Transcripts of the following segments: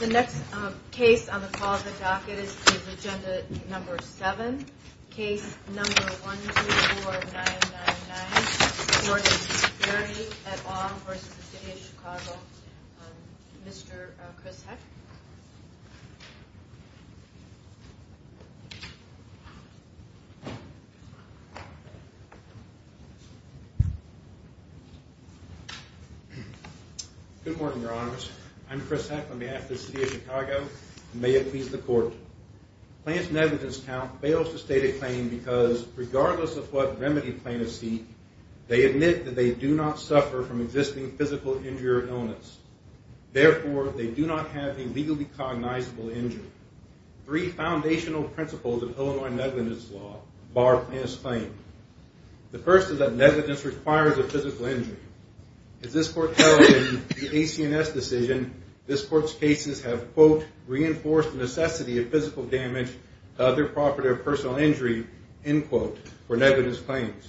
The next case on the call of the docket is agenda number 7, case number 124999, Florida Security et al. v. City of Chicago. Mr. Chris Heck. Good morning, your honors. I'm Chris Heck on behalf of the City of Chicago and may it please the court. Plaintiffs negligence count fails to state a claim because regardless of what remedy plaintiffs seek, they admit that they do not suffer from existing physical injury or illness. Therefore, they do not have a legally cognizable injury. Three foundational principles of Illinois negligence law bar a plaintiff's claim. The first is that negligence requires a physical injury. As this court held in the AC&S decision, this court's cases have, quote, reinforced the necessity of physical damage to other property or personal injury, end quote, for negligence claims.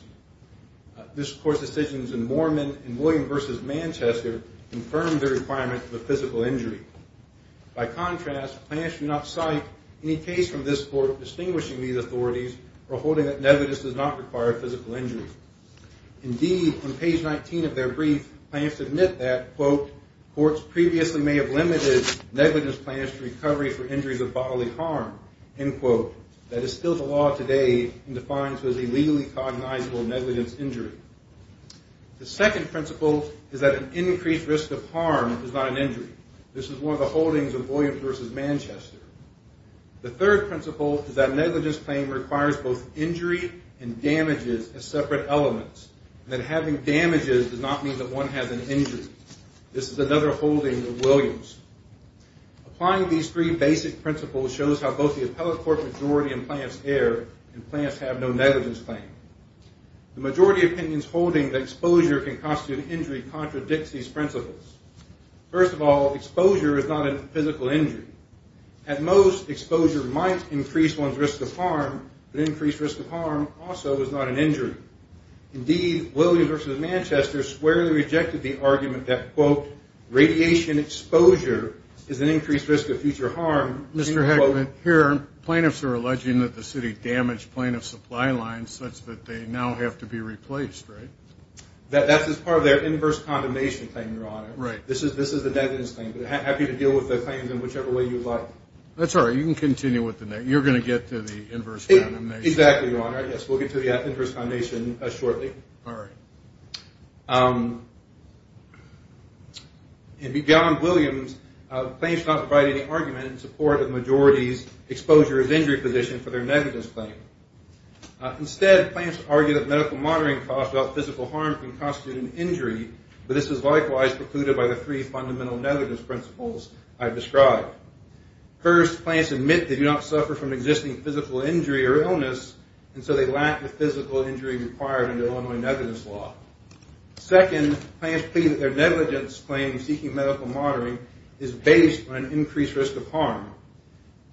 This court's decisions in Moorman and William v. Manchester confirmed the requirement of a physical injury. By contrast, plaintiffs do not cite any case from this court distinguishing these authorities or holding that negligence does not require physical injury. Indeed, on page 19 of their brief, plaintiffs admit that, quote, courts previously may have limited negligence claims to recovery for injuries of bodily harm, end quote. That is still the law today and defined as a legally cognizable negligence injury. The second principle is that an increased risk of harm is not an injury. This is one of the holdings of William v. Manchester. The third principle is that negligence claim requires both injury and damages as separate elements, and that having damages does not mean that one has an injury. This is another holding of Williams. Applying these three basic principles shows how both the appellate court majority and plaintiffs err, and plaintiffs have no negligence claim. The majority opinions holding that exposure can constitute injury contradicts these principles. First of all, exposure is not a physical injury. At most, exposure might increase one's risk of harm, but increased risk of harm also is not an injury. Indeed, Williams v. Manchester squarely rejected the argument that, quote, radiation exposure is an increased risk of future harm, end quote. Here, plaintiffs are alleging that the city damaged plaintiff supply lines such that they now have to be replaced, right? That's as part of their inverse condemnation claim, Your Honor. Right. This is the negligence claim, but happy to deal with the claims in whichever way you like. That's all right. You can continue with the next. You're going to get to the inverse condemnation. Exactly, Your Honor. Yes, we'll get to the inverse condemnation shortly. All right. In McGowan-Williams, plaintiffs do not provide any argument in support of majority's exposure as injury position for their negligence claim. Instead, plaintiffs argue that medical monitoring costs without physical harm can constitute an injury, but this is likewise precluded by the three fundamental negligence principles I've described. First, plaintiffs admit they do not suffer from existing physical injury or illness, and so they lack the physical injury required under Illinois negligence law. Second, plaintiffs plead that their negligence claim seeking medical monitoring is based on an increased risk of harm.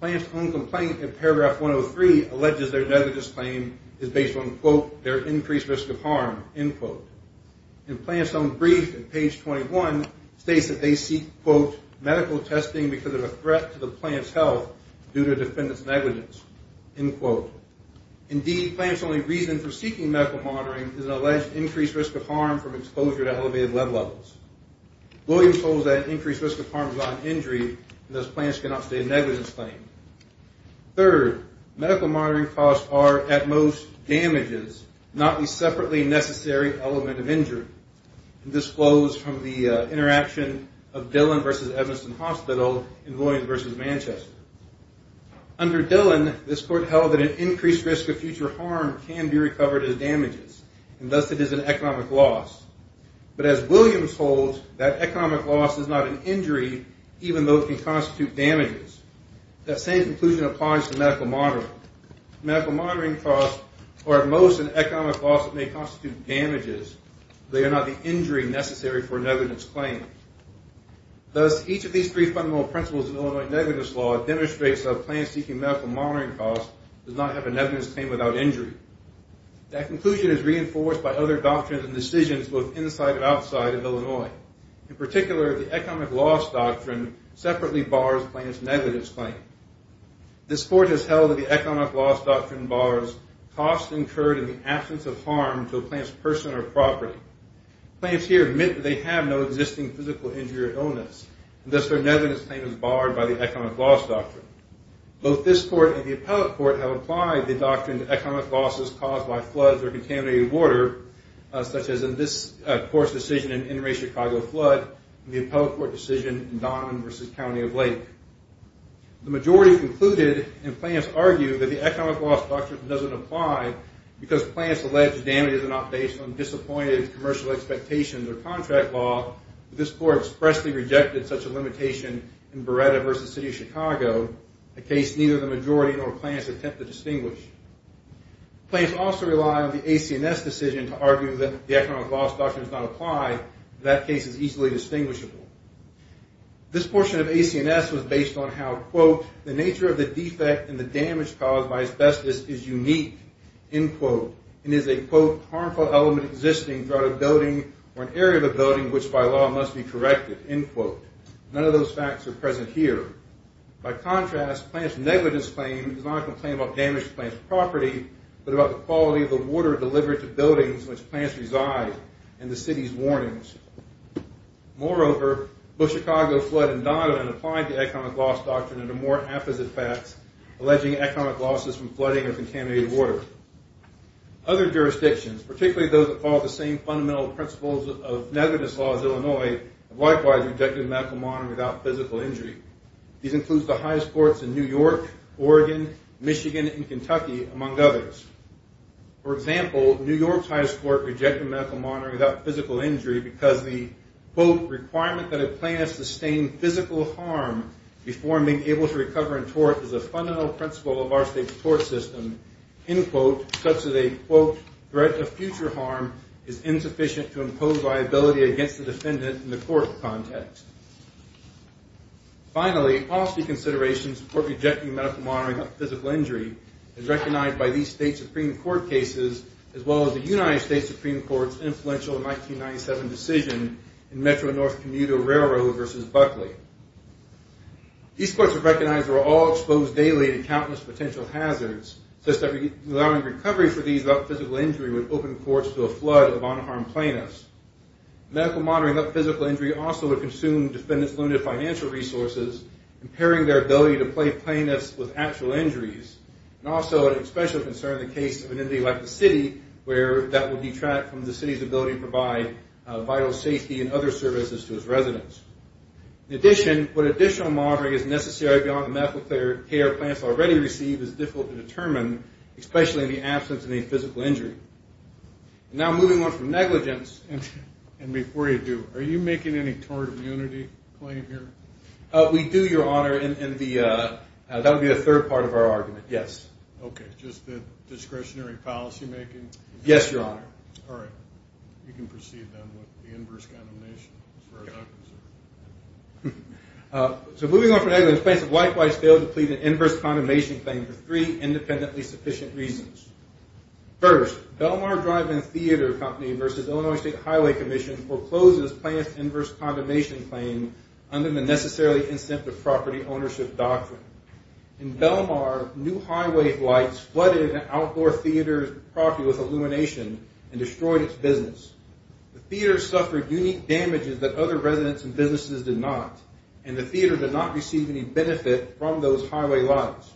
Plaintiff's own complaint in paragraph 103 alleges their negligence claim is based on, quote, their increased risk of harm, end quote. And plaintiff's own brief at page 21 states that they seek, quote, medical testing because of a threat to the plaintiff's health due to defendant's negligence, end quote. Indeed, plaintiff's only reason for seeking medical monitoring is an alleged increased risk of harm from exposure to elevated blood levels. Williams holds that increased risk of harm is not an injury, and thus plaintiffs cannot state a negligence claim. Third, medical monitoring costs are, at most, damages, not the separately necessary element of injury. And this flows from the interaction of Dillon v. Evanston Hospital and Williams v. Manchester. Under Dillon, this court held that an increased risk of future harm can be recovered as damages, and thus it is an economic loss. But as Williams holds, that economic loss is not an injury, even though it can constitute damages. That same conclusion applies to medical monitoring. Medical monitoring costs are, at most, an economic loss that may constitute damages. They are not the injury necessary for a negligence claim. Thus, each of these three fundamental principles of Illinois negligence law demonstrates that a plaintiff seeking medical monitoring costs does not have a negligence claim without injury. That conclusion is reinforced by other doctrines and decisions both inside and outside of Illinois. In particular, the economic loss doctrine separately bars a plaintiff's negligence claim. This court has held that the economic loss doctrine bars costs incurred in the absence of harm to a plaintiff's person or property. Plaintiffs here admit that they have no existing physical injury or illness, and thus their negligence claim is barred by the economic loss doctrine. Both this court and the appellate court have applied the doctrine to economic losses caused by floods or contaminated water, such as in this court's decision in the Interstate Chicago flood and the appellate court decision in Donovan v. County of Lake. The majority concluded, and plaintiffs argued, that the economic loss doctrine doesn't apply because plaintiffs allege damages are not based on disappointed commercial expectations or contract law, but this court expressly rejected such a limitation in Beretta v. City of Chicago, a case neither the majority nor plaintiffs attempt to distinguish. Plaintiffs also rely on the AC&S decision to argue that the economic loss doctrine does not apply. That case is easily distinguishable. The nature of the defect and the damage caused by asbestos is unique, and is a, quote, harmful element existing throughout a building or an area of a building which by law must be corrected, end quote. None of those facts are present here. By contrast, plaintiff's negligence claim is not a complaint about damaged plaintiff's property, but about the quality of the water delivered to buildings in which plaintiffs reside and the city's warnings. Moreover, both Chicago, Flood, and Donovan applied the economic loss doctrine under more apposite facts, alleging economic losses from flooding or contaminated water. Other jurisdictions, particularly those that follow the same fundamental principles of negligence law as Illinois, have likewise rejected medical monitoring without physical injury. These include the highest courts in New York, Oregon, Michigan, and Kentucky, among others. For example, New York's highest court rejected medical monitoring without physical injury because the, quote, requirement that a plaintiff sustain physical harm before being able to recover in tort is a fundamental principle of our state's tort system, end quote, such that a, quote, threat of future harm is insufficient to impose liability against the defendant in the court context. Finally, policy considerations for rejecting medical monitoring without physical injury is recognized by these state Supreme Court cases as well as the United States Supreme Court's influential 1997 decision in Metro-North Commuter Railroad v. Buckley. These courts have recognized that we're all exposed daily to countless potential hazards, such that allowing recovery for these without physical injury would open courts to a flood of unharmed plaintiffs. Medical monitoring without physical injury also would consume defendants' limited financial resources, impairing their ability to play plaintiffs with actual injuries, and also would especially concern the case of an entity like the city, where that would detract from the city's ability to provide vital safety and other services to its residents. In addition, what additional monitoring is necessary beyond the medical care a plaintiff already received is difficult to determine, especially in the absence of any physical injury. And now moving on from negligence, and before you do, are you making any tort immunity claim here? We do, Your Honor. That would be the third part of our argument, yes. Okay, just the discretionary policymaking? Yes, Your Honor. All right. You can proceed then with the inverse condemnation, as far as I'm concerned. So moving on from negligence, plaintiffs likewise fail to plead an inverse condemnation claim for three independently sufficient reasons. First, Belmar Drive and Theater Company v. Illinois State Highway Commission forecloses plaintiff's inverse condemnation claim under the necessarily incentive property ownership doctrine. In Belmar, new highway lights flooded an outdoor theater's property with illumination and destroyed its business. The theater suffered unique damages that other residents and businesses did not, and the theater did not receive any benefit from those highway lights.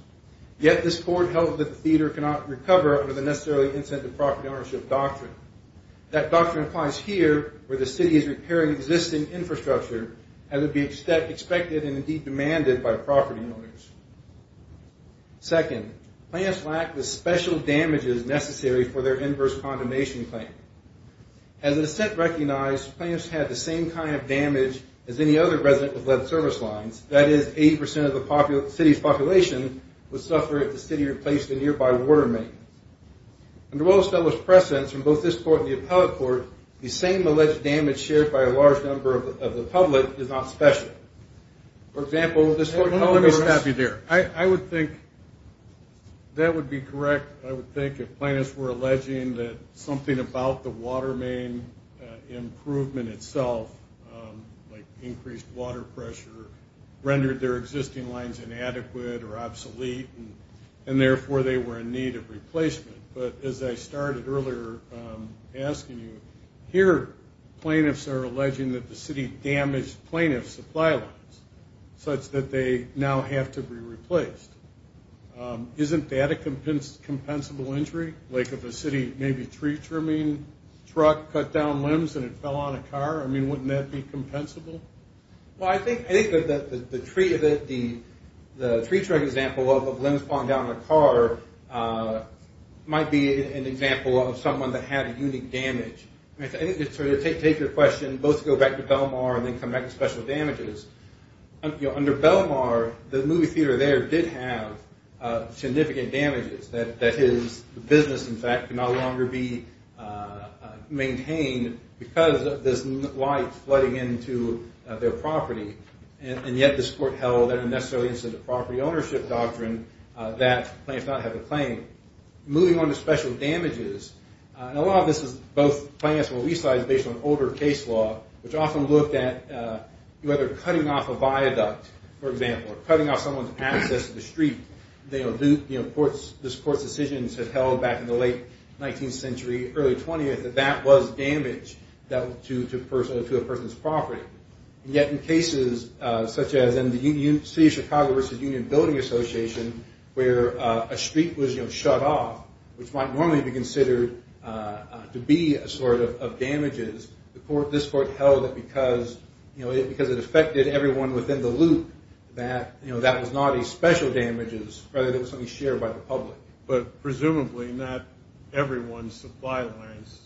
Yet this court held that the theater cannot recover under the necessarily incentive property ownership doctrine. That doctrine applies here, where the city is repairing existing infrastructure, as would be expected and indeed demanded by property owners. Second, plaintiffs lack the special damages necessary for their inverse condemnation claim. As it is set recognized, plaintiffs had the same kind of damage as any other resident with lead service lines, that is 80% of the city's population would suffer if the city replaced a nearby water main. Under Willis-Nellis' precedence from both this court and the appellate court, the same alleged damage shared by a large number of the public is not special. For example, this court held that- Let me stop you there. I would think that would be correct. I would think if plaintiffs were alleging that something about the water main improvement itself, like increased water pressure, rendered their existing lines inadequate or obsolete, and therefore they were in need of replacement. But as I started earlier asking you, here plaintiffs are alleging that the city damaged plaintiff's supply lines, such that they now have to be replaced. Isn't that a compensable injury? Like if a city maybe tree trimming truck cut down limbs and it fell on a car, I mean, wouldn't that be compensable? Well, I think that the tree trimming example of limbs falling down on a car might be an example of someone that had a unique damage. I think to take your question, both to go back to Belmar and then come back to special damages, under Belmar, the movie theater there did have significant damages that his business, in fact, could no longer be maintained because of this light flooding into their property. And yet this court held, under the property ownership doctrine, that plaintiffs did not have a claim. Moving on to special damages, and a lot of this is both plaintiffs will resize based on older case law, which often looked at whether cutting off a viaduct, for example, or cutting off someone's access to the street. This court's decisions had held back in the late 19th century, early 20th, that that was damage to a person's property. Yet in cases such as in the City of Chicago vs. Union Building Association, where a street was shut off, which might normally be considered to be a sort of damages, this court held that because it affected everyone within the loop, that that was not a special damages, rather that it was something shared by the public. But presumably not everyone's supply lines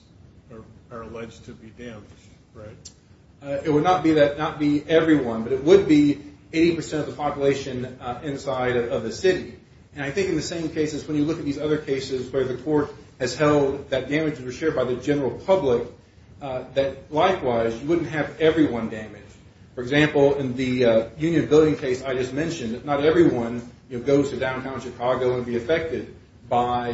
are alleged to be damaged, right? It would not be everyone, but it would be 80% of the population inside of the city. And I think in the same cases, when you look at these other cases where the court has held that damages were shared by the general public, that likewise you wouldn't have everyone damaged. For example, in the Union Building case I just mentioned, not everyone goes to downtown Chicago and would be affected by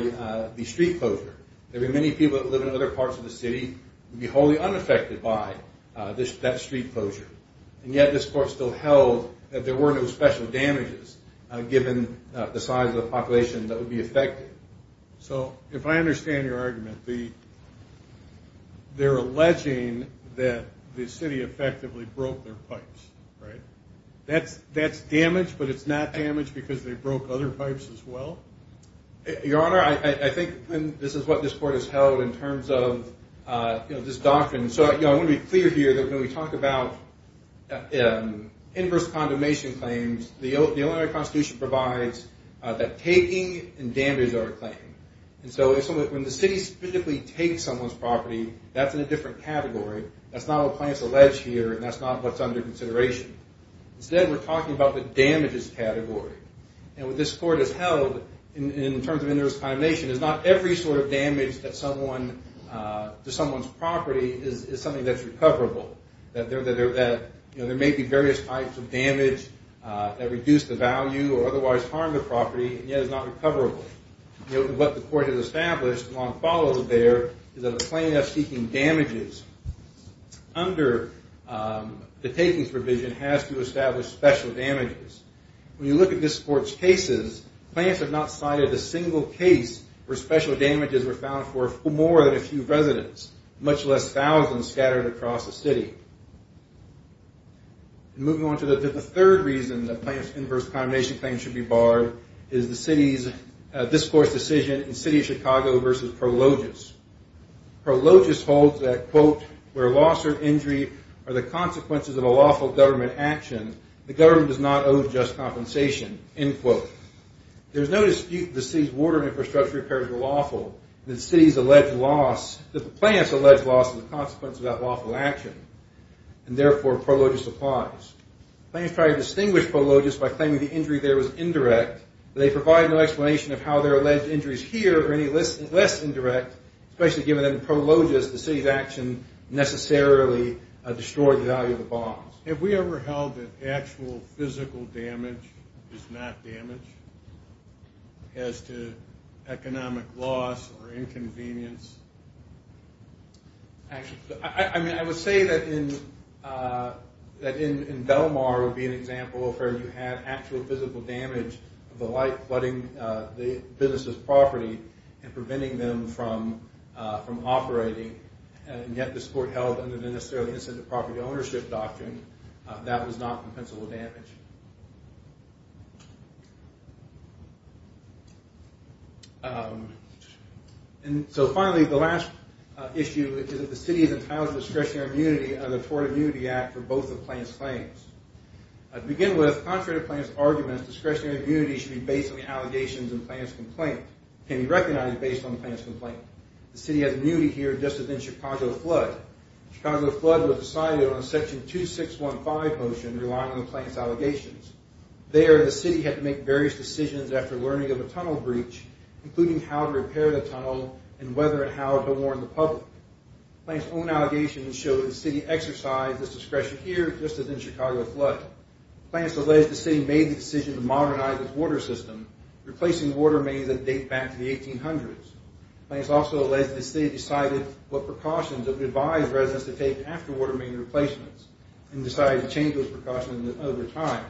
the street closure. There would be many people who live in other parts of the city who would be wholly unaffected by that street closure. And yet this court still held that there were no special damages, given the size of the population that would be affected. So if I understand your argument, they're alleging that the city effectively broke their pipes, right? That's damage, but it's not damage because they broke other pipes as well? Your Honor, I think this is what this court has held in terms of this doctrine. So I want to be clear here that when we talk about inverse condemnation claims, the Illinois Constitution provides that taking and damages are a claim. And so when the city specifically takes someone's property, that's in a different category. That's not what the plaintiffs allege here, and that's not what's under consideration. Instead, we're talking about the damages category. And what this court has held in terms of inverse condemnation is not every sort of damage to someone's property is something that's recoverable. There may be various types of damage that reduce the value or otherwise harm the property, and yet it's not recoverable. What the court has established and what follows there is that a plaintiff seeking damages under the takings provision has to establish special damages. When you look at this court's cases, plaintiffs have not cited a single case where special damages were found for more than a few residents, much less thousands scattered across the city. Moving on to the third reason that plaintiffs' inverse condemnation claims should be barred is the city's discourse decision in the city of Chicago versus Prologis. Prologis holds that, quote, where loss or injury are the consequences of a lawful government action, the government does not owe just compensation, end quote. There's no dispute that the city's water infrastructure repairs were lawful. The city's alleged loss, that the plaintiff's alleged loss is the consequence of that lawful action, and therefore Prologis applies. Plaintiffs try to distinguish Prologis by claiming the injury there was indirect, but they provide no explanation of how their alleged injury is here or any less indirect, especially given that in Prologis the city's action necessarily destroyed the value of the bonds. Have we ever held that actual physical damage is not damage as to economic loss or inconvenience? I would say that in Belmar would be an example where you had actual physical damage of the light flooding the business's property and preventing them from operating, and yet the sport held under the necessarily incentive property ownership doctrine that was not compensable damage. And so finally, the last issue is that the city is entitled to discretionary immunity under the Florida Immunity Act for both the plaintiff's claims. To begin with, contrary to plaintiff's arguments, discretionary immunity should be based on the allegations in the plaintiff's complaint, can be recognized based on the plaintiff's complaint. The city has immunity here just as in the Chicago flood. The Chicago flood was decided on a section 2615 motion relying on the plaintiff's allegations. There, the city had to make various decisions after learning of a tunnel breach, including how to repair the tunnel and whether and how to warn the public. Plaintiff's own allegations show that the city exercised this discretion here just as in the Chicago flood. Plaintiff's alleged the city made the decision to modernize its water system, replacing water mains that date back to the 1800s. Plaintiff's also alleged the city decided what precautions it would advise residents to take after water main replacements and decided to change those precautions over time.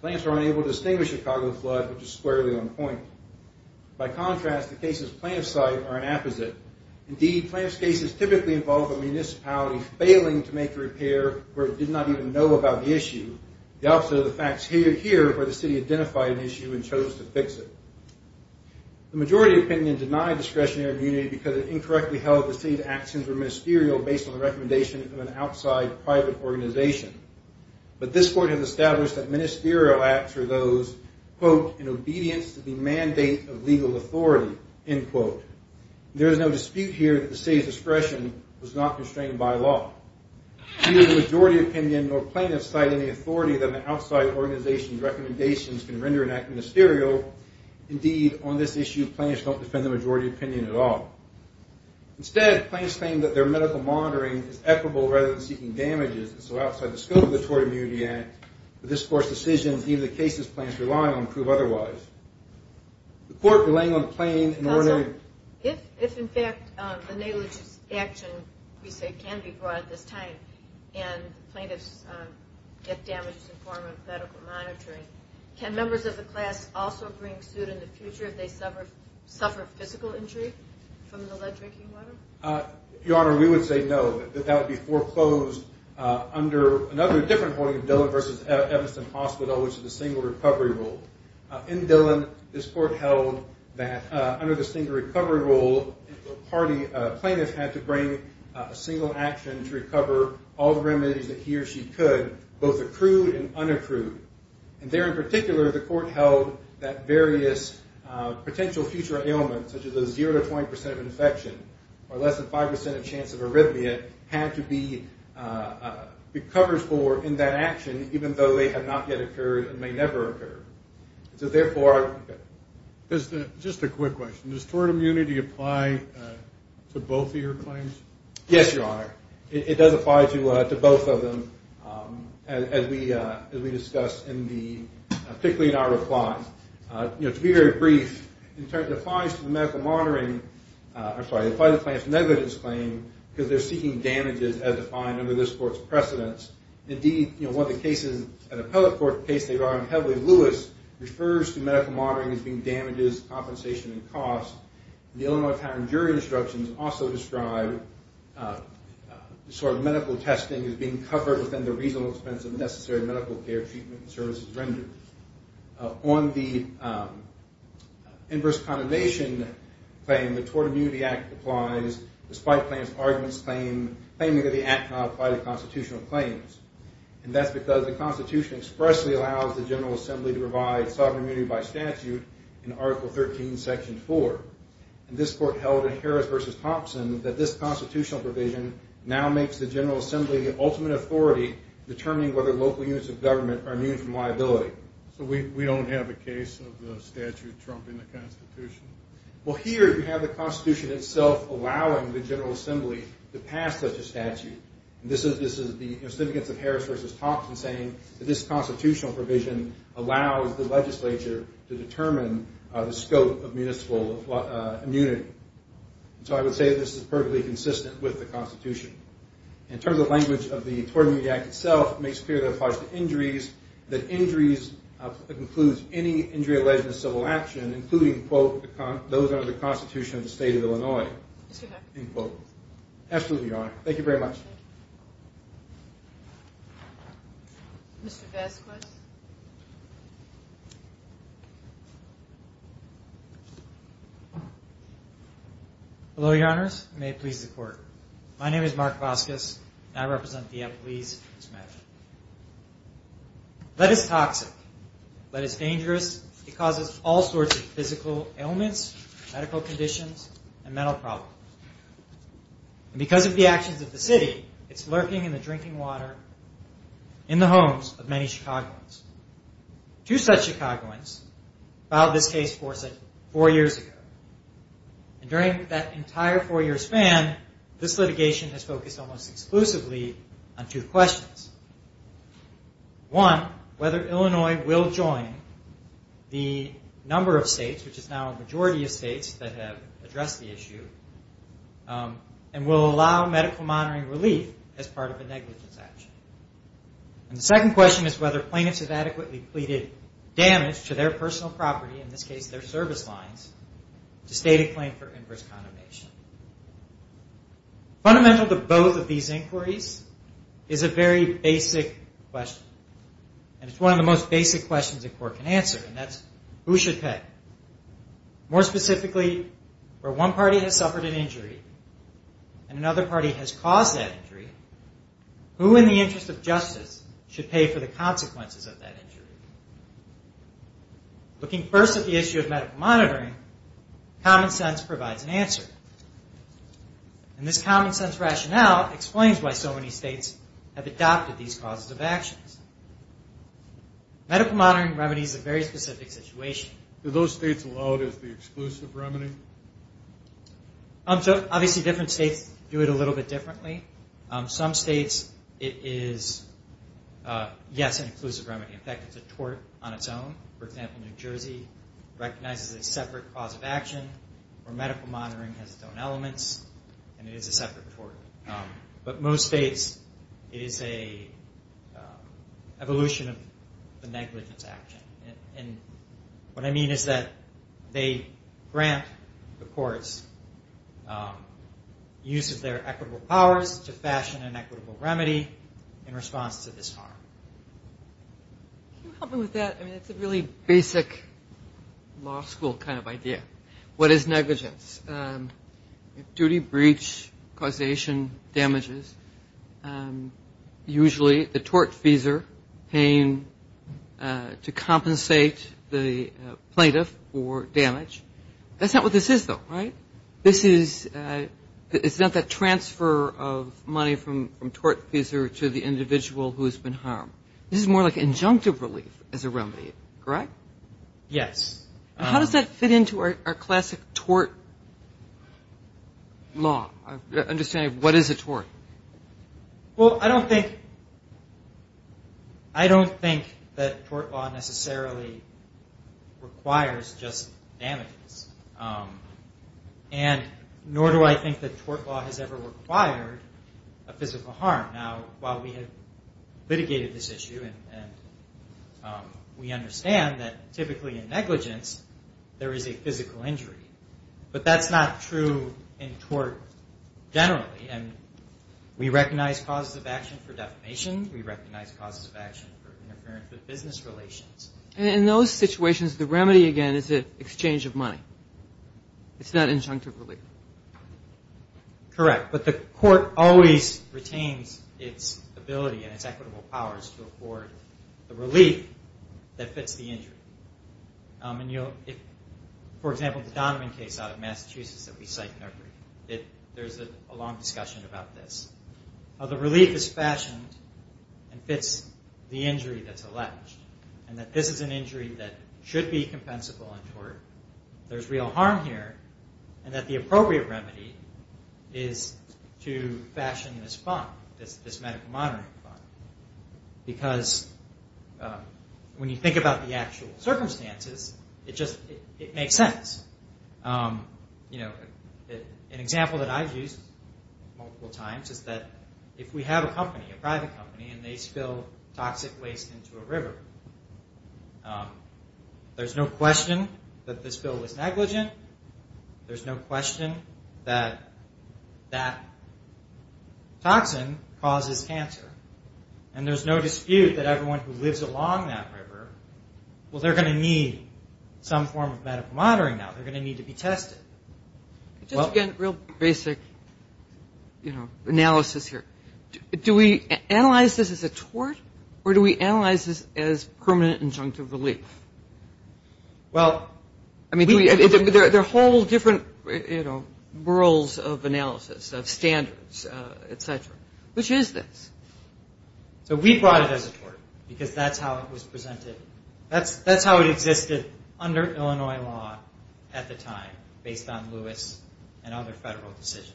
Plaintiffs were unable to distinguish the Chicago flood, which is squarely on point. By contrast, the cases of plaintiff's site are an apposite. Indeed, plaintiff's cases typically involve a municipality failing to make a repair or did not even know about the issue. The opposite of the facts here are where the city identified an issue and chose to fix it. The majority opinion denied discretionary immunity because it incorrectly held the city's actions were ministerial based on the recommendation of an outside private organization. But this court has established that ministerial acts are those, quote, in obedience to the mandate of legal authority, end quote. There is no dispute here that the city's discretion was not constrained by law. Neither the majority opinion nor plaintiffs cite any authority that an outside organization's recommendations can render an act ministerial. Indeed, on this issue, plaintiffs don't defend the majority opinion at all. Instead, plaintiffs claim that their medical monitoring is equitable rather than seeking damages, and so outside the scope of the Tort Immunity Act, the discourse decisions either the cases plaintiffs rely on prove otherwise. The court relaying on the plaintiff in order to- Counsel, if in fact the negligence action we say can be brought at this time and plaintiffs get damages in the form of medical monitoring, can members of the class also bring suit in the future if they suffer physical injury? From the lead drinking water? Your Honor, we would say no, that that would be foreclosed under another different holding of Dillon v. Evanston Hospital, which is the single recovery rule. In Dillon, this court held that under the single recovery rule, a plaintiff had to bring a single action to recover all the remedies that he or she could, both accrued and unaccrued. And there in particular, the court held that various potential future ailments, such as a 0% to 20% infection or less than 5% chance of arrhythmia, had to be recovered for in that action, even though they had not yet occurred and may never occur. So therefore- Just a quick question. Does tort immunity apply to both of your claims? Yes, Your Honor. It does apply to both of them, as we discussed in the-particularly in our reply. To be very brief, it applies to the medical monitoring- I'm sorry, it applies to the plaintiff's negligence claim because they're seeking damages as defined under this court's precedence. Indeed, one of the cases, an appellate court case they've argued heavily, Lewis, refers to medical monitoring as being damages, compensation, and costs. The Illinois Patent and Jury Instructions also describe sort of medical testing as being covered within the reasonable expense of necessary medical care, treatment, and services rendered. On the inverse condemnation claim, the Tort Immunity Act applies, despite the plaintiff's arguments claiming that the act cannot apply to constitutional claims. And that's because the Constitution expressly allows the General Assembly to provide sovereign immunity by statute in Article 13, Section 4. And this court held in Harris v. Thompson that this constitutional provision now makes the General Assembly the ultimate authority determining whether local units of government are immune from liability. So we don't have a case of the statute trumping the Constitution? Well, here you have the Constitution itself allowing the General Assembly to pass such a statute. This is the significance of Harris v. Thompson saying that this constitutional provision allows the legislature to determine the scope of municipal immunity. So I would say that this is perfectly consistent with the Constitution. In terms of the language of the Tort Immunity Act itself, it makes clear that it applies to injuries, that injuries, it includes any injury alleged in a civil action, including, quote, those under the Constitution of the State of Illinois. Absolutely, Your Honor. Thank you very much. Hello, Your Honors. May it please the Court. My name is Mark Vasquez, and I represent the employees of this matter. Lead is toxic. Lead is dangerous. It causes all sorts of physical ailments, medical conditions, and mental problems. And because of the actions of the city, it's lurking in the drinking water in the homes of many Chicagoans. Two such Chicagoans filed this case for us four years ago. And during that entire four-year span, this litigation has focused almost exclusively on two questions. One, whether Illinois will join the number of states, which is now a majority of states that have addressed the issue, and will allow medical monitoring relief as part of a negligence action. And the second question is whether plaintiffs have adequately pleaded damage to their personal property, in this case their service lines, to state a claim for inverse condemnation. Fundamental to both of these inquiries is a very basic question. And it's one of the most basic questions a court can answer, and that's who should pay. More specifically, where one party has suffered an injury and another party has caused that injury, who in the interest of justice should pay for the consequences of that injury? Looking first at the issue of medical monitoring, common sense provides an answer. And this common sense rationale explains why so many states have adopted these causes of actions. Medical monitoring remedies a very specific situation. Are those states allowed as the exclusive remedy? Obviously different states do it a little bit differently. Some states, it is, yes, an exclusive remedy. In fact, it's a tort on its own. For example, New Jersey recognizes a separate cause of action, where medical monitoring has its own elements, and it is a separate tort. But most states, it is an evolution of the negligence action. And what I mean is that they grant the courts use of their equitable powers to fashion an equitable remedy in response to this harm. Can you help me with that? I mean, it's a really basic law school kind of idea. What is negligence? Duty, breach, causation, damages. Usually the tortfeasor paying to compensate the plaintiff for damage. That's not what this is, though, right? This is not that transfer of money from tortfeasor to the individual who has been harmed. This is more like injunctive relief as a remedy, correct? Yes. How does that fit into our classic tort law, understanding what is a tort? Well, I don't think that tort law necessarily requires just damages. And nor do I think that tort law has ever required a physical harm. Now, while we have litigated this issue, and we understand that typically in negligence there is a physical injury, but that's not true in tort generally. And we recognize causes of action for defamation. We recognize causes of action for interference with business relations. And in those situations, the remedy, again, is an exchange of money. It's not injunctive relief. Correct. But the court always retains its ability and its equitable powers to afford the relief that fits the injury. For example, the Donovan case out of Massachusetts that we cite in our brief, there's a long discussion about this, how the relief is fashioned and fits the injury that's alleged, and that this is an injury that should be compensable in tort. There's real harm here, and that the appropriate remedy is to fashion this fund, this medical monitoring fund. Because when you think about the actual circumstances, it makes sense. You know, an example that I've used multiple times is that if we have a company, a private company, and they spill toxic waste into a river, there's no question that the spill is negligent. There's no question that that toxin causes cancer. And there's no dispute that everyone who lives along that river, well, they're going to need some form of medical monitoring now. They're going to need to be tested. Just, again, a real basic, you know, analysis here. Do we analyze this as a tort, or do we analyze this as permanent injunctive relief? Well, we do. I mean, there are whole different, you know, worlds of analysis, of standards, et cetera. Which is this? So we brought it as a tort, because that's how it was presented. That's how it existed under Illinois law at the time, based on Lewis and other federal decisions.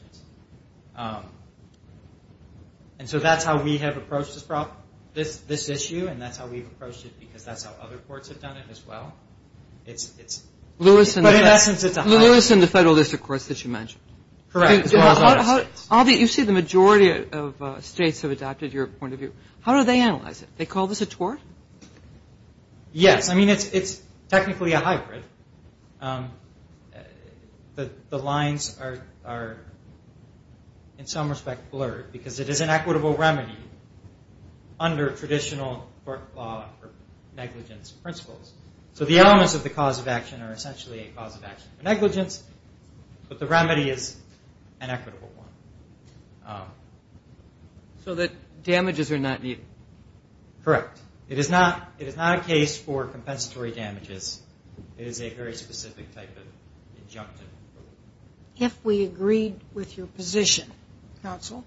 And so that's how we have approached this issue, and that's how we've approached it because that's how other courts have done it as well. But in essence, it's a high- Lewis and the federal district courts that you mentioned. Correct, as well as other states. Albie, you say the majority of states have adopted your point of view. How do they analyze it? They call this a tort? Yes. I mean, it's technically a hybrid. The lines are, in some respect, blurred, because it is an equitable remedy under traditional court law for negligence principles. So the elements of the cause of action are essentially a cause of action for negligence, but the remedy is an equitable one. So the damages are not needed? Correct. It is not a case for compensatory damages. It is a very specific type of injunctive. If we agreed with your position, counsel,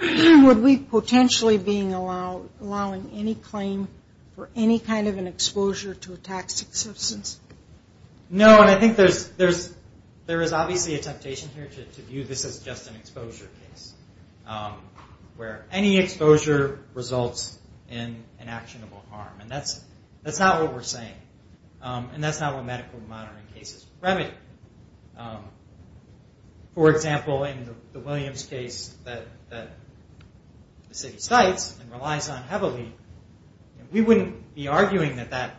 would we potentially be allowing any claim for any kind of an exposure to a toxic substance? No, and I think there is obviously a temptation here to view this as just an exposure case, where any exposure results in an actionable harm, and that's not what we're saying, and that's not what medical monitoring cases remedy. For example, in the Williams case that the city cites and relies on heavily, we wouldn't be arguing that that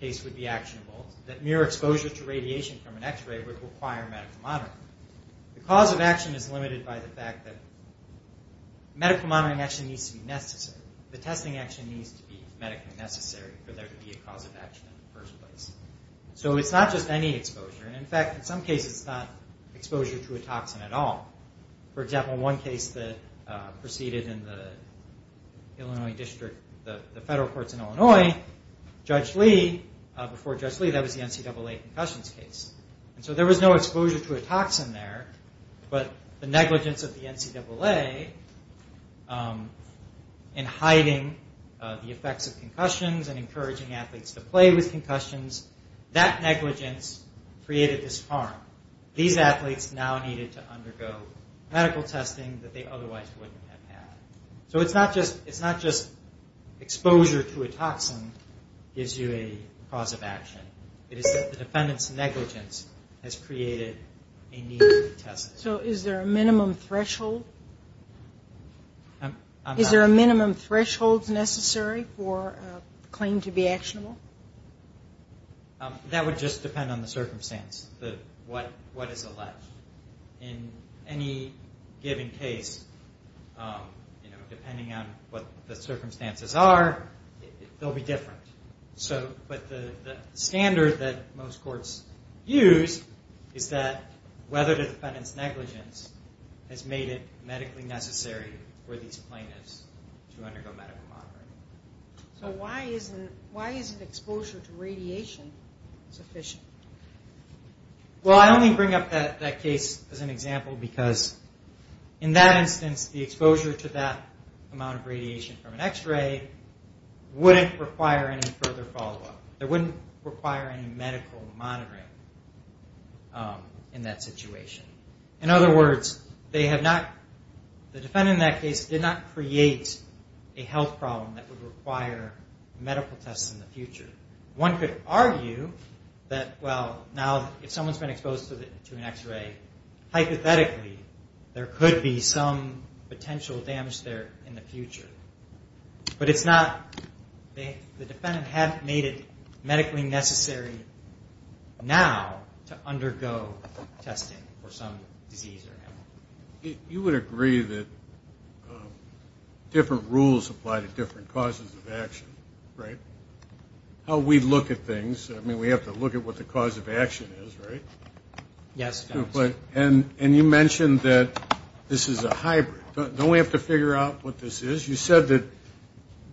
case would be actionable, that mere exposure to radiation from an x-ray would require medical monitoring. The cause of action is limited by the fact that medical monitoring actually needs to be necessary. The testing actually needs to be medically necessary for there to be a cause of action in the first place. So it's not just any exposure. In fact, in some cases, it's not exposure to a toxin at all. For example, one case that proceeded in the Illinois district, the federal courts in Illinois, Judge Lee, before Judge Lee, that was the NCAA concussions case. So there was no exposure to a toxin there, but the negligence of the NCAA in hiding the effects of concussions and encouraging athletes to play with concussions, that negligence created this harm. These athletes now needed to undergo medical testing that they otherwise wouldn't have had. So it's not just exposure to a toxin gives you a cause of action. It is that the defendant's negligence has created a need for testing. So is there a minimum threshold? Is there a minimum threshold necessary for a claim to be actionable? That would just depend on the circumstance, what is alleged. In any given case, depending on what the circumstances are, they'll be different. But the standard that most courts use is that whether the defendant's negligence has made it medically necessary for these plaintiffs to undergo medical monitoring. So why isn't exposure to radiation sufficient? Well, I only bring up that case as an example because in that instance, the exposure to that amount of radiation from an X-ray wouldn't require any further follow-up. It wouldn't require any medical monitoring in that situation. In other words, they have not, the defendant in that case did not create a health problem that would require medical tests in the future. One could argue that, well, now if someone's been exposed to an X-ray, hypothetically there could be some potential damage there in the future. But it's not, the defendant hadn't made it medically necessary now to undergo testing for some disease or animal. You would agree that different rules apply to different causes of action, right? How we look at things, I mean, we have to look at what the cause of action is, right? And you mentioned that this is a hybrid. Don't we have to figure out what this is? You said that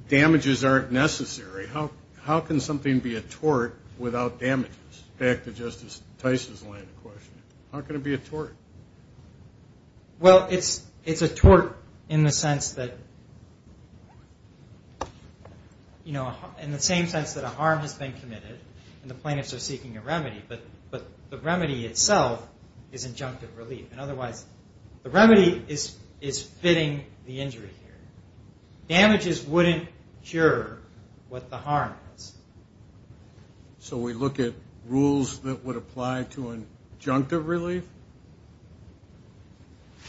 damages aren't necessary. How can something be a tort without damages? Back to Justice Tice's line of questioning. How can it be a tort? Well, it's a tort in the sense that, you know, in the same sense that a harm has been committed, and the plaintiffs are seeking a remedy, but the remedy itself is injunctive relief. And otherwise, the remedy is fitting the injury here. Damages wouldn't cure what the harm is. So we look at rules that would apply to injunctive relief?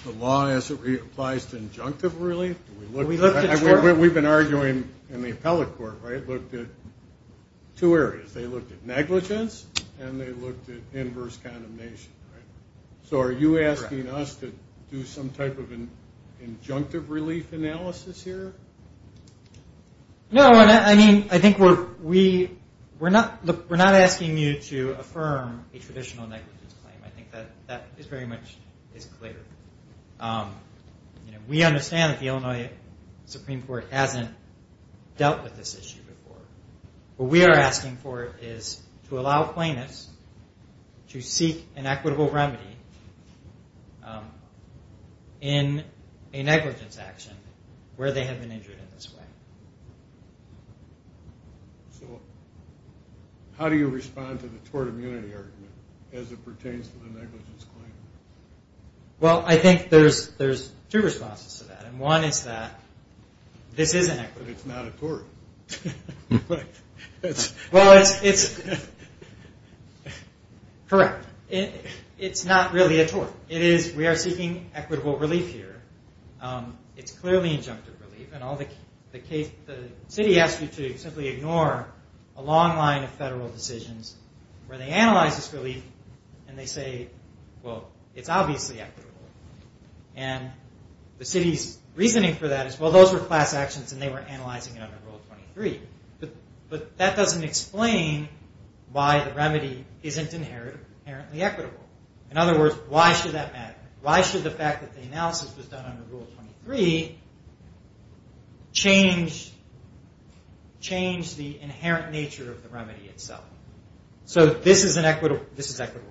The law as it applies to injunctive relief? We've been arguing in the appellate court, right, looked at two areas. They looked at negligence, and they looked at inverse condemnation, right? So are you asking us to do some type of an injunctive relief analysis here? No, I mean, I think we're not asking you to affirm a traditional negligence claim. I think that is very much clear. We understand that the Illinois Supreme Court hasn't dealt with this issue before. What we are asking for is to allow plaintiffs to seek an equitable remedy in a negligence action where they have been injured in this way. So how do you respond to the tort immunity argument as it pertains to the negligence claim? Well, I think there's two responses to that. And one is that this is inequitable. Well, it's correct. It's not really a tort. We are seeking equitable relief here. It's clearly injunctive relief. The city asks you to simply ignore a long line of federal decisions where they analyze this relief and they say, well, it's obviously equitable. And the city's reasoning for that is, well, those were class actions and they were analyzing it under Rule 23. But that doesn't explain why the remedy isn't inherently equitable. In other words, why should that matter? Rule 23 changed the inherent nature of the remedy itself. So this is equitable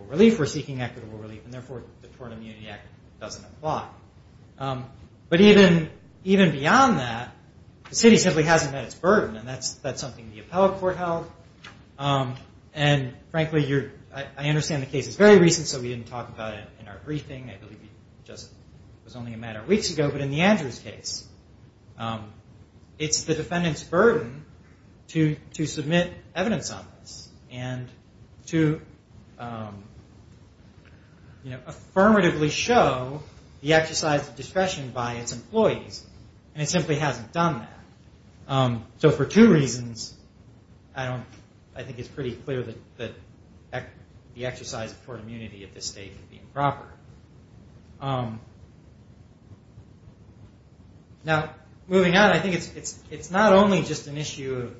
relief. We're seeking equitable relief. And therefore, the Tort Immunity Act doesn't apply. But even beyond that, the city simply hasn't met its burden. And that's something the Appellate Court held. And frankly, I understand the case is very recent, so we didn't talk about it in our briefing. I believe it was only a matter of weeks ago. But in the Andrews case, it's the defendant's burden to submit evidence on this and to, you know, for two reasons, I think it's pretty clear that the exercise of tort immunity at this stage would be improper. Now, moving on, I think it's not only just an issue of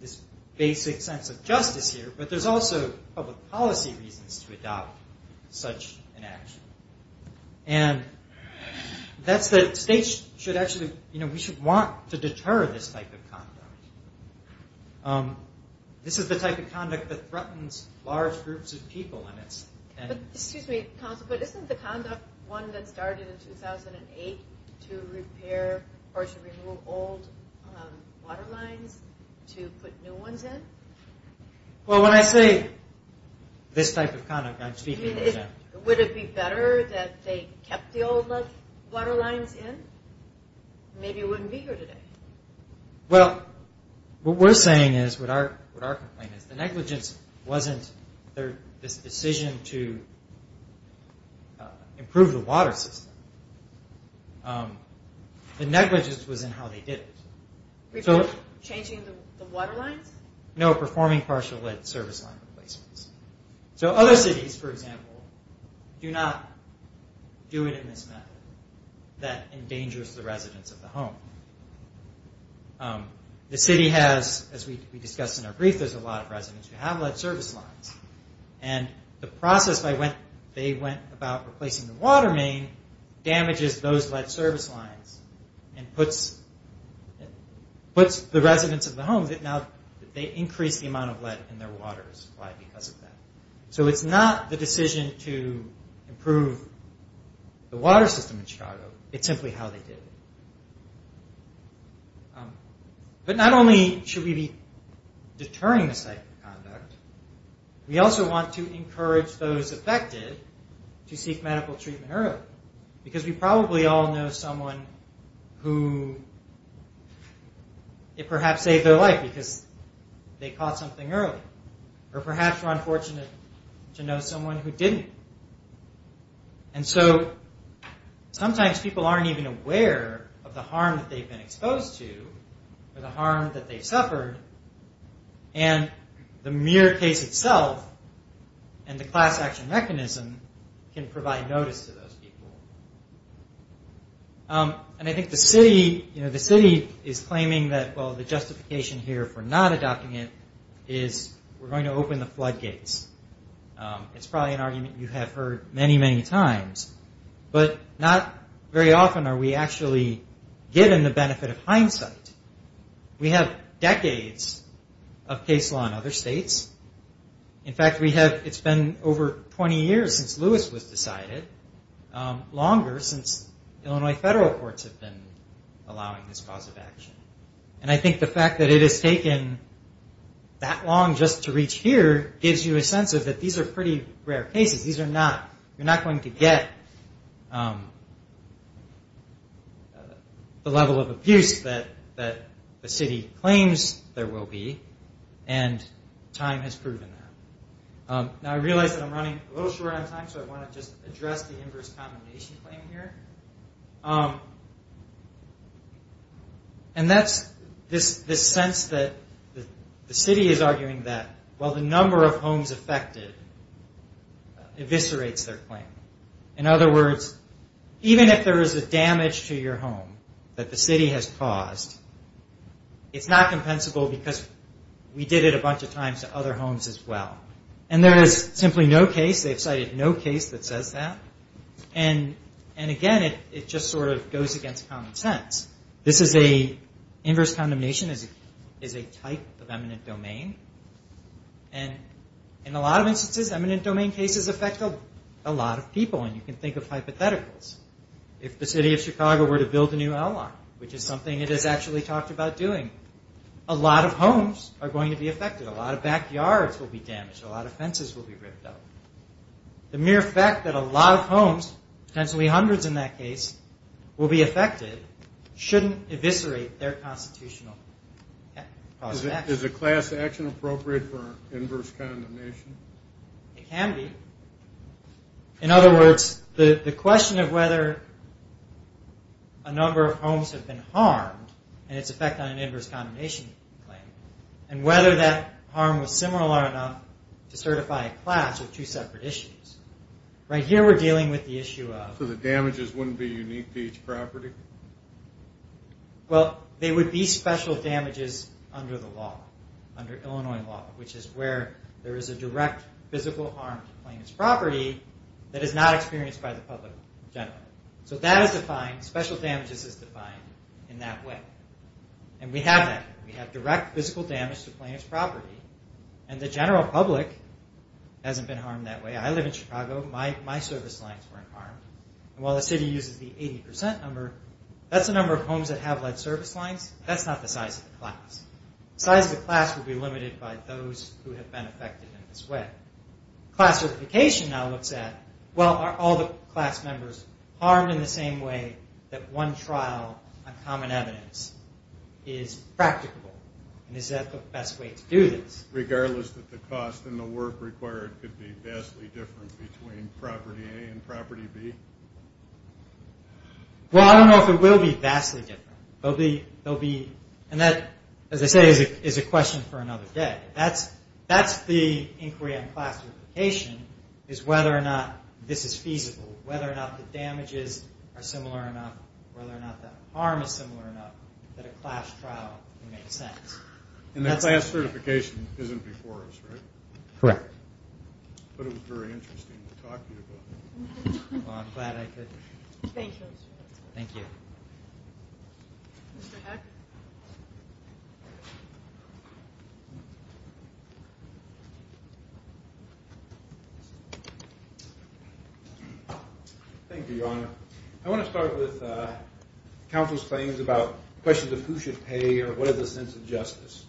this basic sense of justice here, but there's also public policy reasons to adopt such an action. And that's that states should actually, you know, we should want to deter this type of conduct. This is the type of conduct that threatens large groups of people. Excuse me, counsel, but isn't the conduct one that started in 2008 to repair or to remove old water lines to put new ones in? Well, when I say this type of conduct, I'm speaking... Would it be better that they kept the old water lines in? Maybe it wouldn't be here today. Well, what we're saying is, what our complaint is, the negligence wasn't this decision to improve the water system. The negligence was in how they did it. No, performing partial lead service line replacements. So other cities, for example, do not do it in this method that endangers the residents of the home. The city has, as we discussed in our brief, there's a lot of residents who have lead service lines. And the process they went about replacing the water main damages those lead service lines and puts the residents of the home that now they increase the amount of lead in their waters. Why? Because of that. So it's not the decision to improve the water system in Chicago. It's simply how they did it. But not only should we be deterring this type of conduct, we also want to encourage those affected to seek medical treatment early. Because we probably all know someone who it perhaps saved their life because they caught something early. Or perhaps we're unfortunate to know someone who didn't. And so sometimes people aren't even aware of the harm that they've been exposed to or the harm that they've suffered. And the mere case itself and the class action mechanism can provide notice to those people. And I think the city is claiming that the justification here for not adopting it is we're going to open the floodgates. It's probably an argument you have heard many, many times, but not very often are we actually given the benefit of hindsight. We have decades of case law in other states. In fact, it's been over 20 years since Lewis was decided, longer since Illinois federal courts have been allowing this cause of action. And I think the fact that it has taken that long just to reach here gives you a sense that these are pretty rare cases. You're not going to get the level of abuse that the city claims there will be. And time has proven that. Now, I realize that I'm running a little short on time, so I want to just address the inverse combination claim here. And that's this sense that the city is arguing that while the number of homes affected eviscerates their claim. In other words, even if there is a damage to your home that the city has caused, it's not compensable because we did it a bunch of times to other homes as well. And there is simply no case, they have cited no case that says that. And again, it just sort of goes against common sense. This is a inverse condemnation is a type of eminent domain. And in a lot of instances, eminent domain cases affect a lot of people. And you can think of hypotheticals. If the city of Chicago were to build a new outlaw, which is something it has actually talked about doing, a lot of homes are going to be affected. A lot of backyards will be damaged, a lot of fences will be ripped up. The mere fact that a lot of homes, potentially hundreds in that case, will be affected shouldn't eviscerate their constitutional cause of action. Is a class action appropriate for inverse condemnation? It can be. In other words, the question of whether a number of homes have been harmed and its effect on an inverse condemnation claim, and whether that harm was similar enough to certify a class with two separate issues. Right here we're dealing with the issue of... under Illinois law, which is where there is a direct physical harm to plaintiff's property that is not experienced by the public in general. So that is defined, special damages is defined in that way. And we have that. We have direct physical damage to plaintiff's property, and the general public hasn't been harmed that way. I live in Chicago. My service lines weren't harmed. And while the city uses the 80% number, that's the number of homes that have led service lines. That's not the size of the class. The size of the class would be limited by those who have been affected in this way. Class certification now looks at, well, are all the class members harmed in the same way that one trial on common evidence is practical? And is that the best way to do this? Regardless that the cost and the work required could be vastly different between property A and property B? Well, I don't know if it will be vastly different. And that, as I say, is a question for another day. That's the inquiry on class certification, is whether or not this is feasible, whether or not the damages are similar enough, whether or not the harm is similar enough, that a class trial can make sense. And the class certification isn't before us, right? Correct. But it was very interesting to talk to you about that. Thank you. Thank you, Your Honor. I want to start with counsel's claims about questions of who should pay or what is the sense of justice.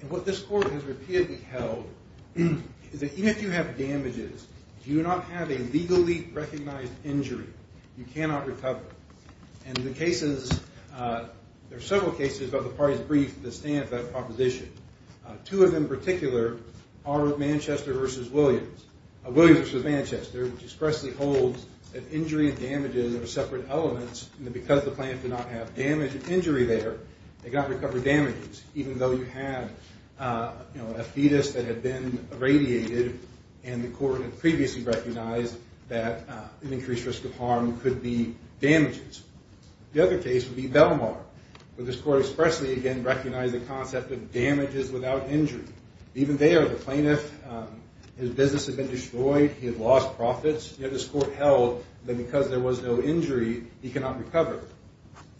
And what this court has repeatedly held is that even if you have damages, if you do not have a legally recognized injury, you cannot recover. And the cases, there are several cases of the parties briefed that stand for that proposition. Two of them in particular are Manchester v. Williams. Williams v. Manchester, which expressly holds that injury and damages are separate elements. And because the plaintiff did not have damage or injury there, they cannot recover damages, even though you had a fetus that had been irradiated and the court had previously recognized that an increased risk of harm could be damages. The other case would be Belmar, where this court expressly, again, recognized the concept of damages without injury. Even there, the plaintiff, his business had been destroyed, he had lost profits. Yet this court held that because there was no injury, he cannot recover.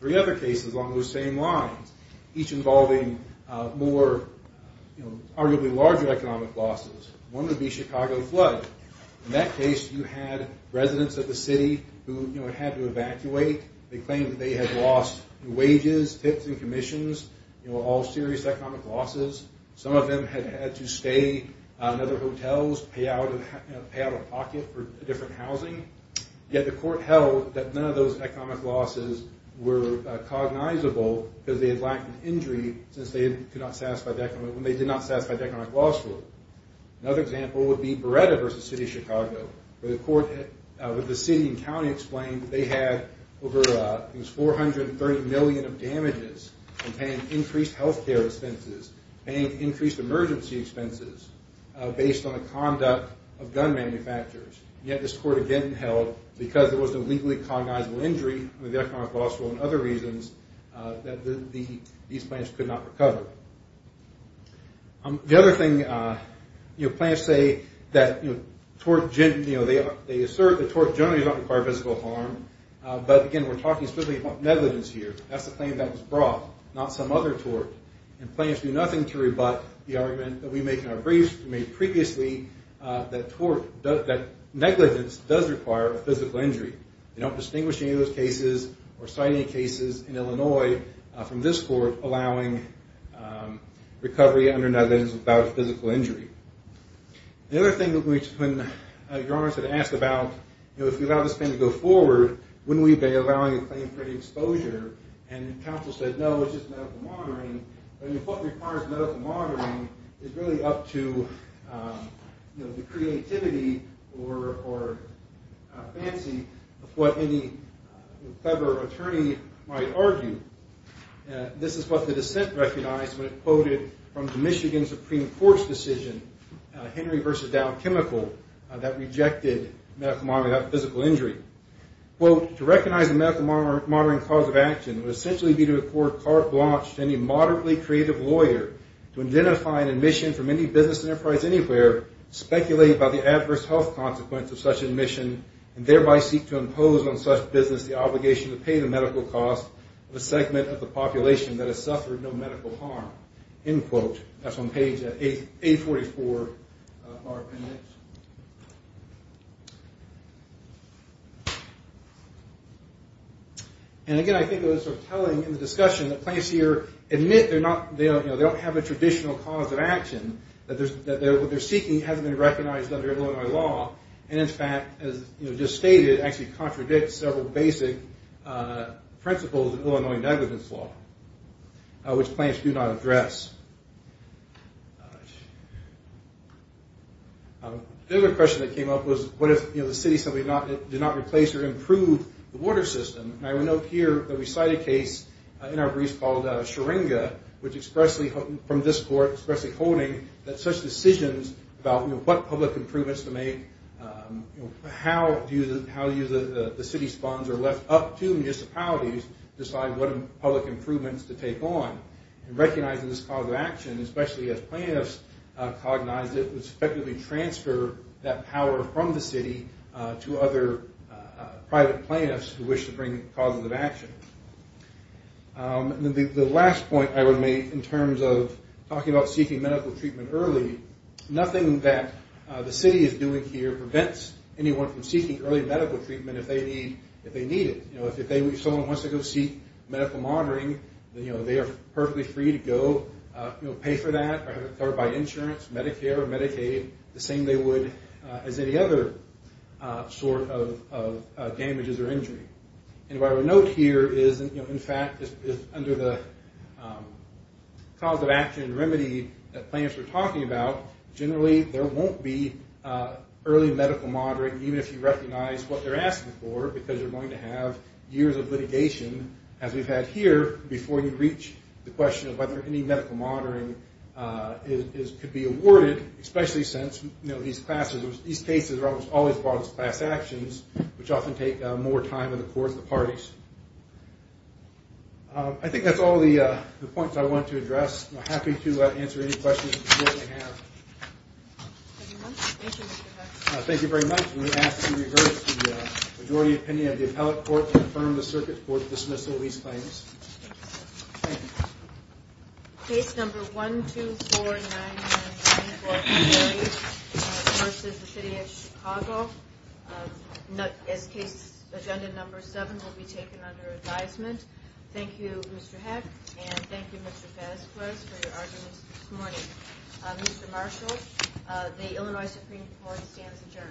Three other cases along those same lines, each involving more arguably larger economic losses. One would be Chicago flood. In that case, you had residents of the city who had to evacuate. They claimed that they had lost wages, tips, and commissions, all serious economic losses. Some of them had had to stay in other hotels, pay out of pocket for different housing. Yet the court held that none of those economic losses were cognizable because they had lacked an injury since they did not satisfy the economic loss for them. Another example would be Beretta v. City of Chicago, where the court with the city and county explained that they had over 430 million of damages, increased health care expenses, and increased emergency expenses based on the conduct of gun manufacturers. Yet this court again held because there was no legally cognizable injury, the economic loss for other reasons, that these plaintiffs could not recover. The other thing, plaintiffs say that they assert that tort generally does not require physical harm. But again, we're talking specifically about negligence here. That's the claim that was brought, not some other tort. And plaintiffs do nothing to rebut the argument that we make in our briefs, we made previously, that negligence does require a physical injury. They don't distinguish any of those cases or cite any cases in Illinois from this court allowing recovery under negligence without a physical injury. The other thing that your Honor has asked about, if we allow this claim to go forward, wouldn't we be allowing a claim for the exposure? And counsel said, no, it's just medical monitoring. What requires medical monitoring is really up to the creativity or fancy of what any clever attorney might argue. This is what the dissent recognized when it quoted from the Michigan Supreme Court's decision, Henry v. Dow Chemical, that rejected medical monitoring without physical injury. Quote, to recognize a medical monitoring cause of action would essentially be to afford carte blanche to any moderately creative lawyer to identify an admission from any business enterprise anywhere speculated by the adverse health consequence of such admission and thereby seek to impose on such business the obligation to pay the medical cost of a segment of the population that has suffered no medical harm. End quote. That's on page 844 of our appendix. And again, I think it was sort of telling in the discussion that plaintiffs here admit they don't have a traditional cause of action, that what they're seeking hasn't been recognized under Illinois law. And in fact, as just stated, actually contradicts several basic principles of Illinois negligence law, which plaintiffs do not address. The other question that came up was, what if the city said we did not replace or improve the water system? And I would note here that we cite a case in our briefs called Scheringa, which expressly, from this court, expressly quoting that such decisions about what public improvements to make, how the city spawns are left up to municipalities to decide what public improvements to take on. And recognizing this cause of action, especially as plaintiffs cognize it, would effectively transfer that power from the city to other private plaintiffs who wish to bring causes of action. The last point I would make in terms of talking about seeking medical treatment early, nothing that the city is doing here prevents anyone from seeking early medical treatment if they need it. If someone wants to go seek medical monitoring, they are perfectly free to go pay for that or by insurance, Medicare or Medicaid, the same they would as any other sort of damages or injury. And what I would note here is, in fact, under the cause of action remedy that plaintiffs were talking about, generally there won't be early medical monitoring, even if you recognize what they're asking for, because you're going to have years of litigation, as we've had here, before you reach the question of whether any medical monitoring could be awarded, especially since these cases are almost always brought as class actions, which often take more time in the court of the parties. I think that's all the points I wanted to address. I'm happy to answer any questions you may have. Thank you very much. I'm going to ask you to reverse the majority opinion of the appellate court to confirm the Circuit Court's dismissal of these claims. Case number 1249-9144 versus the City of Chicago. As case agenda number 7 will be taken under advisement. Thank you, Mr. Heck, and thank you, Mr. Fezquez, for your arguments this morning. Mr. Marshall, the Illinois Supreme Court stands adjourned.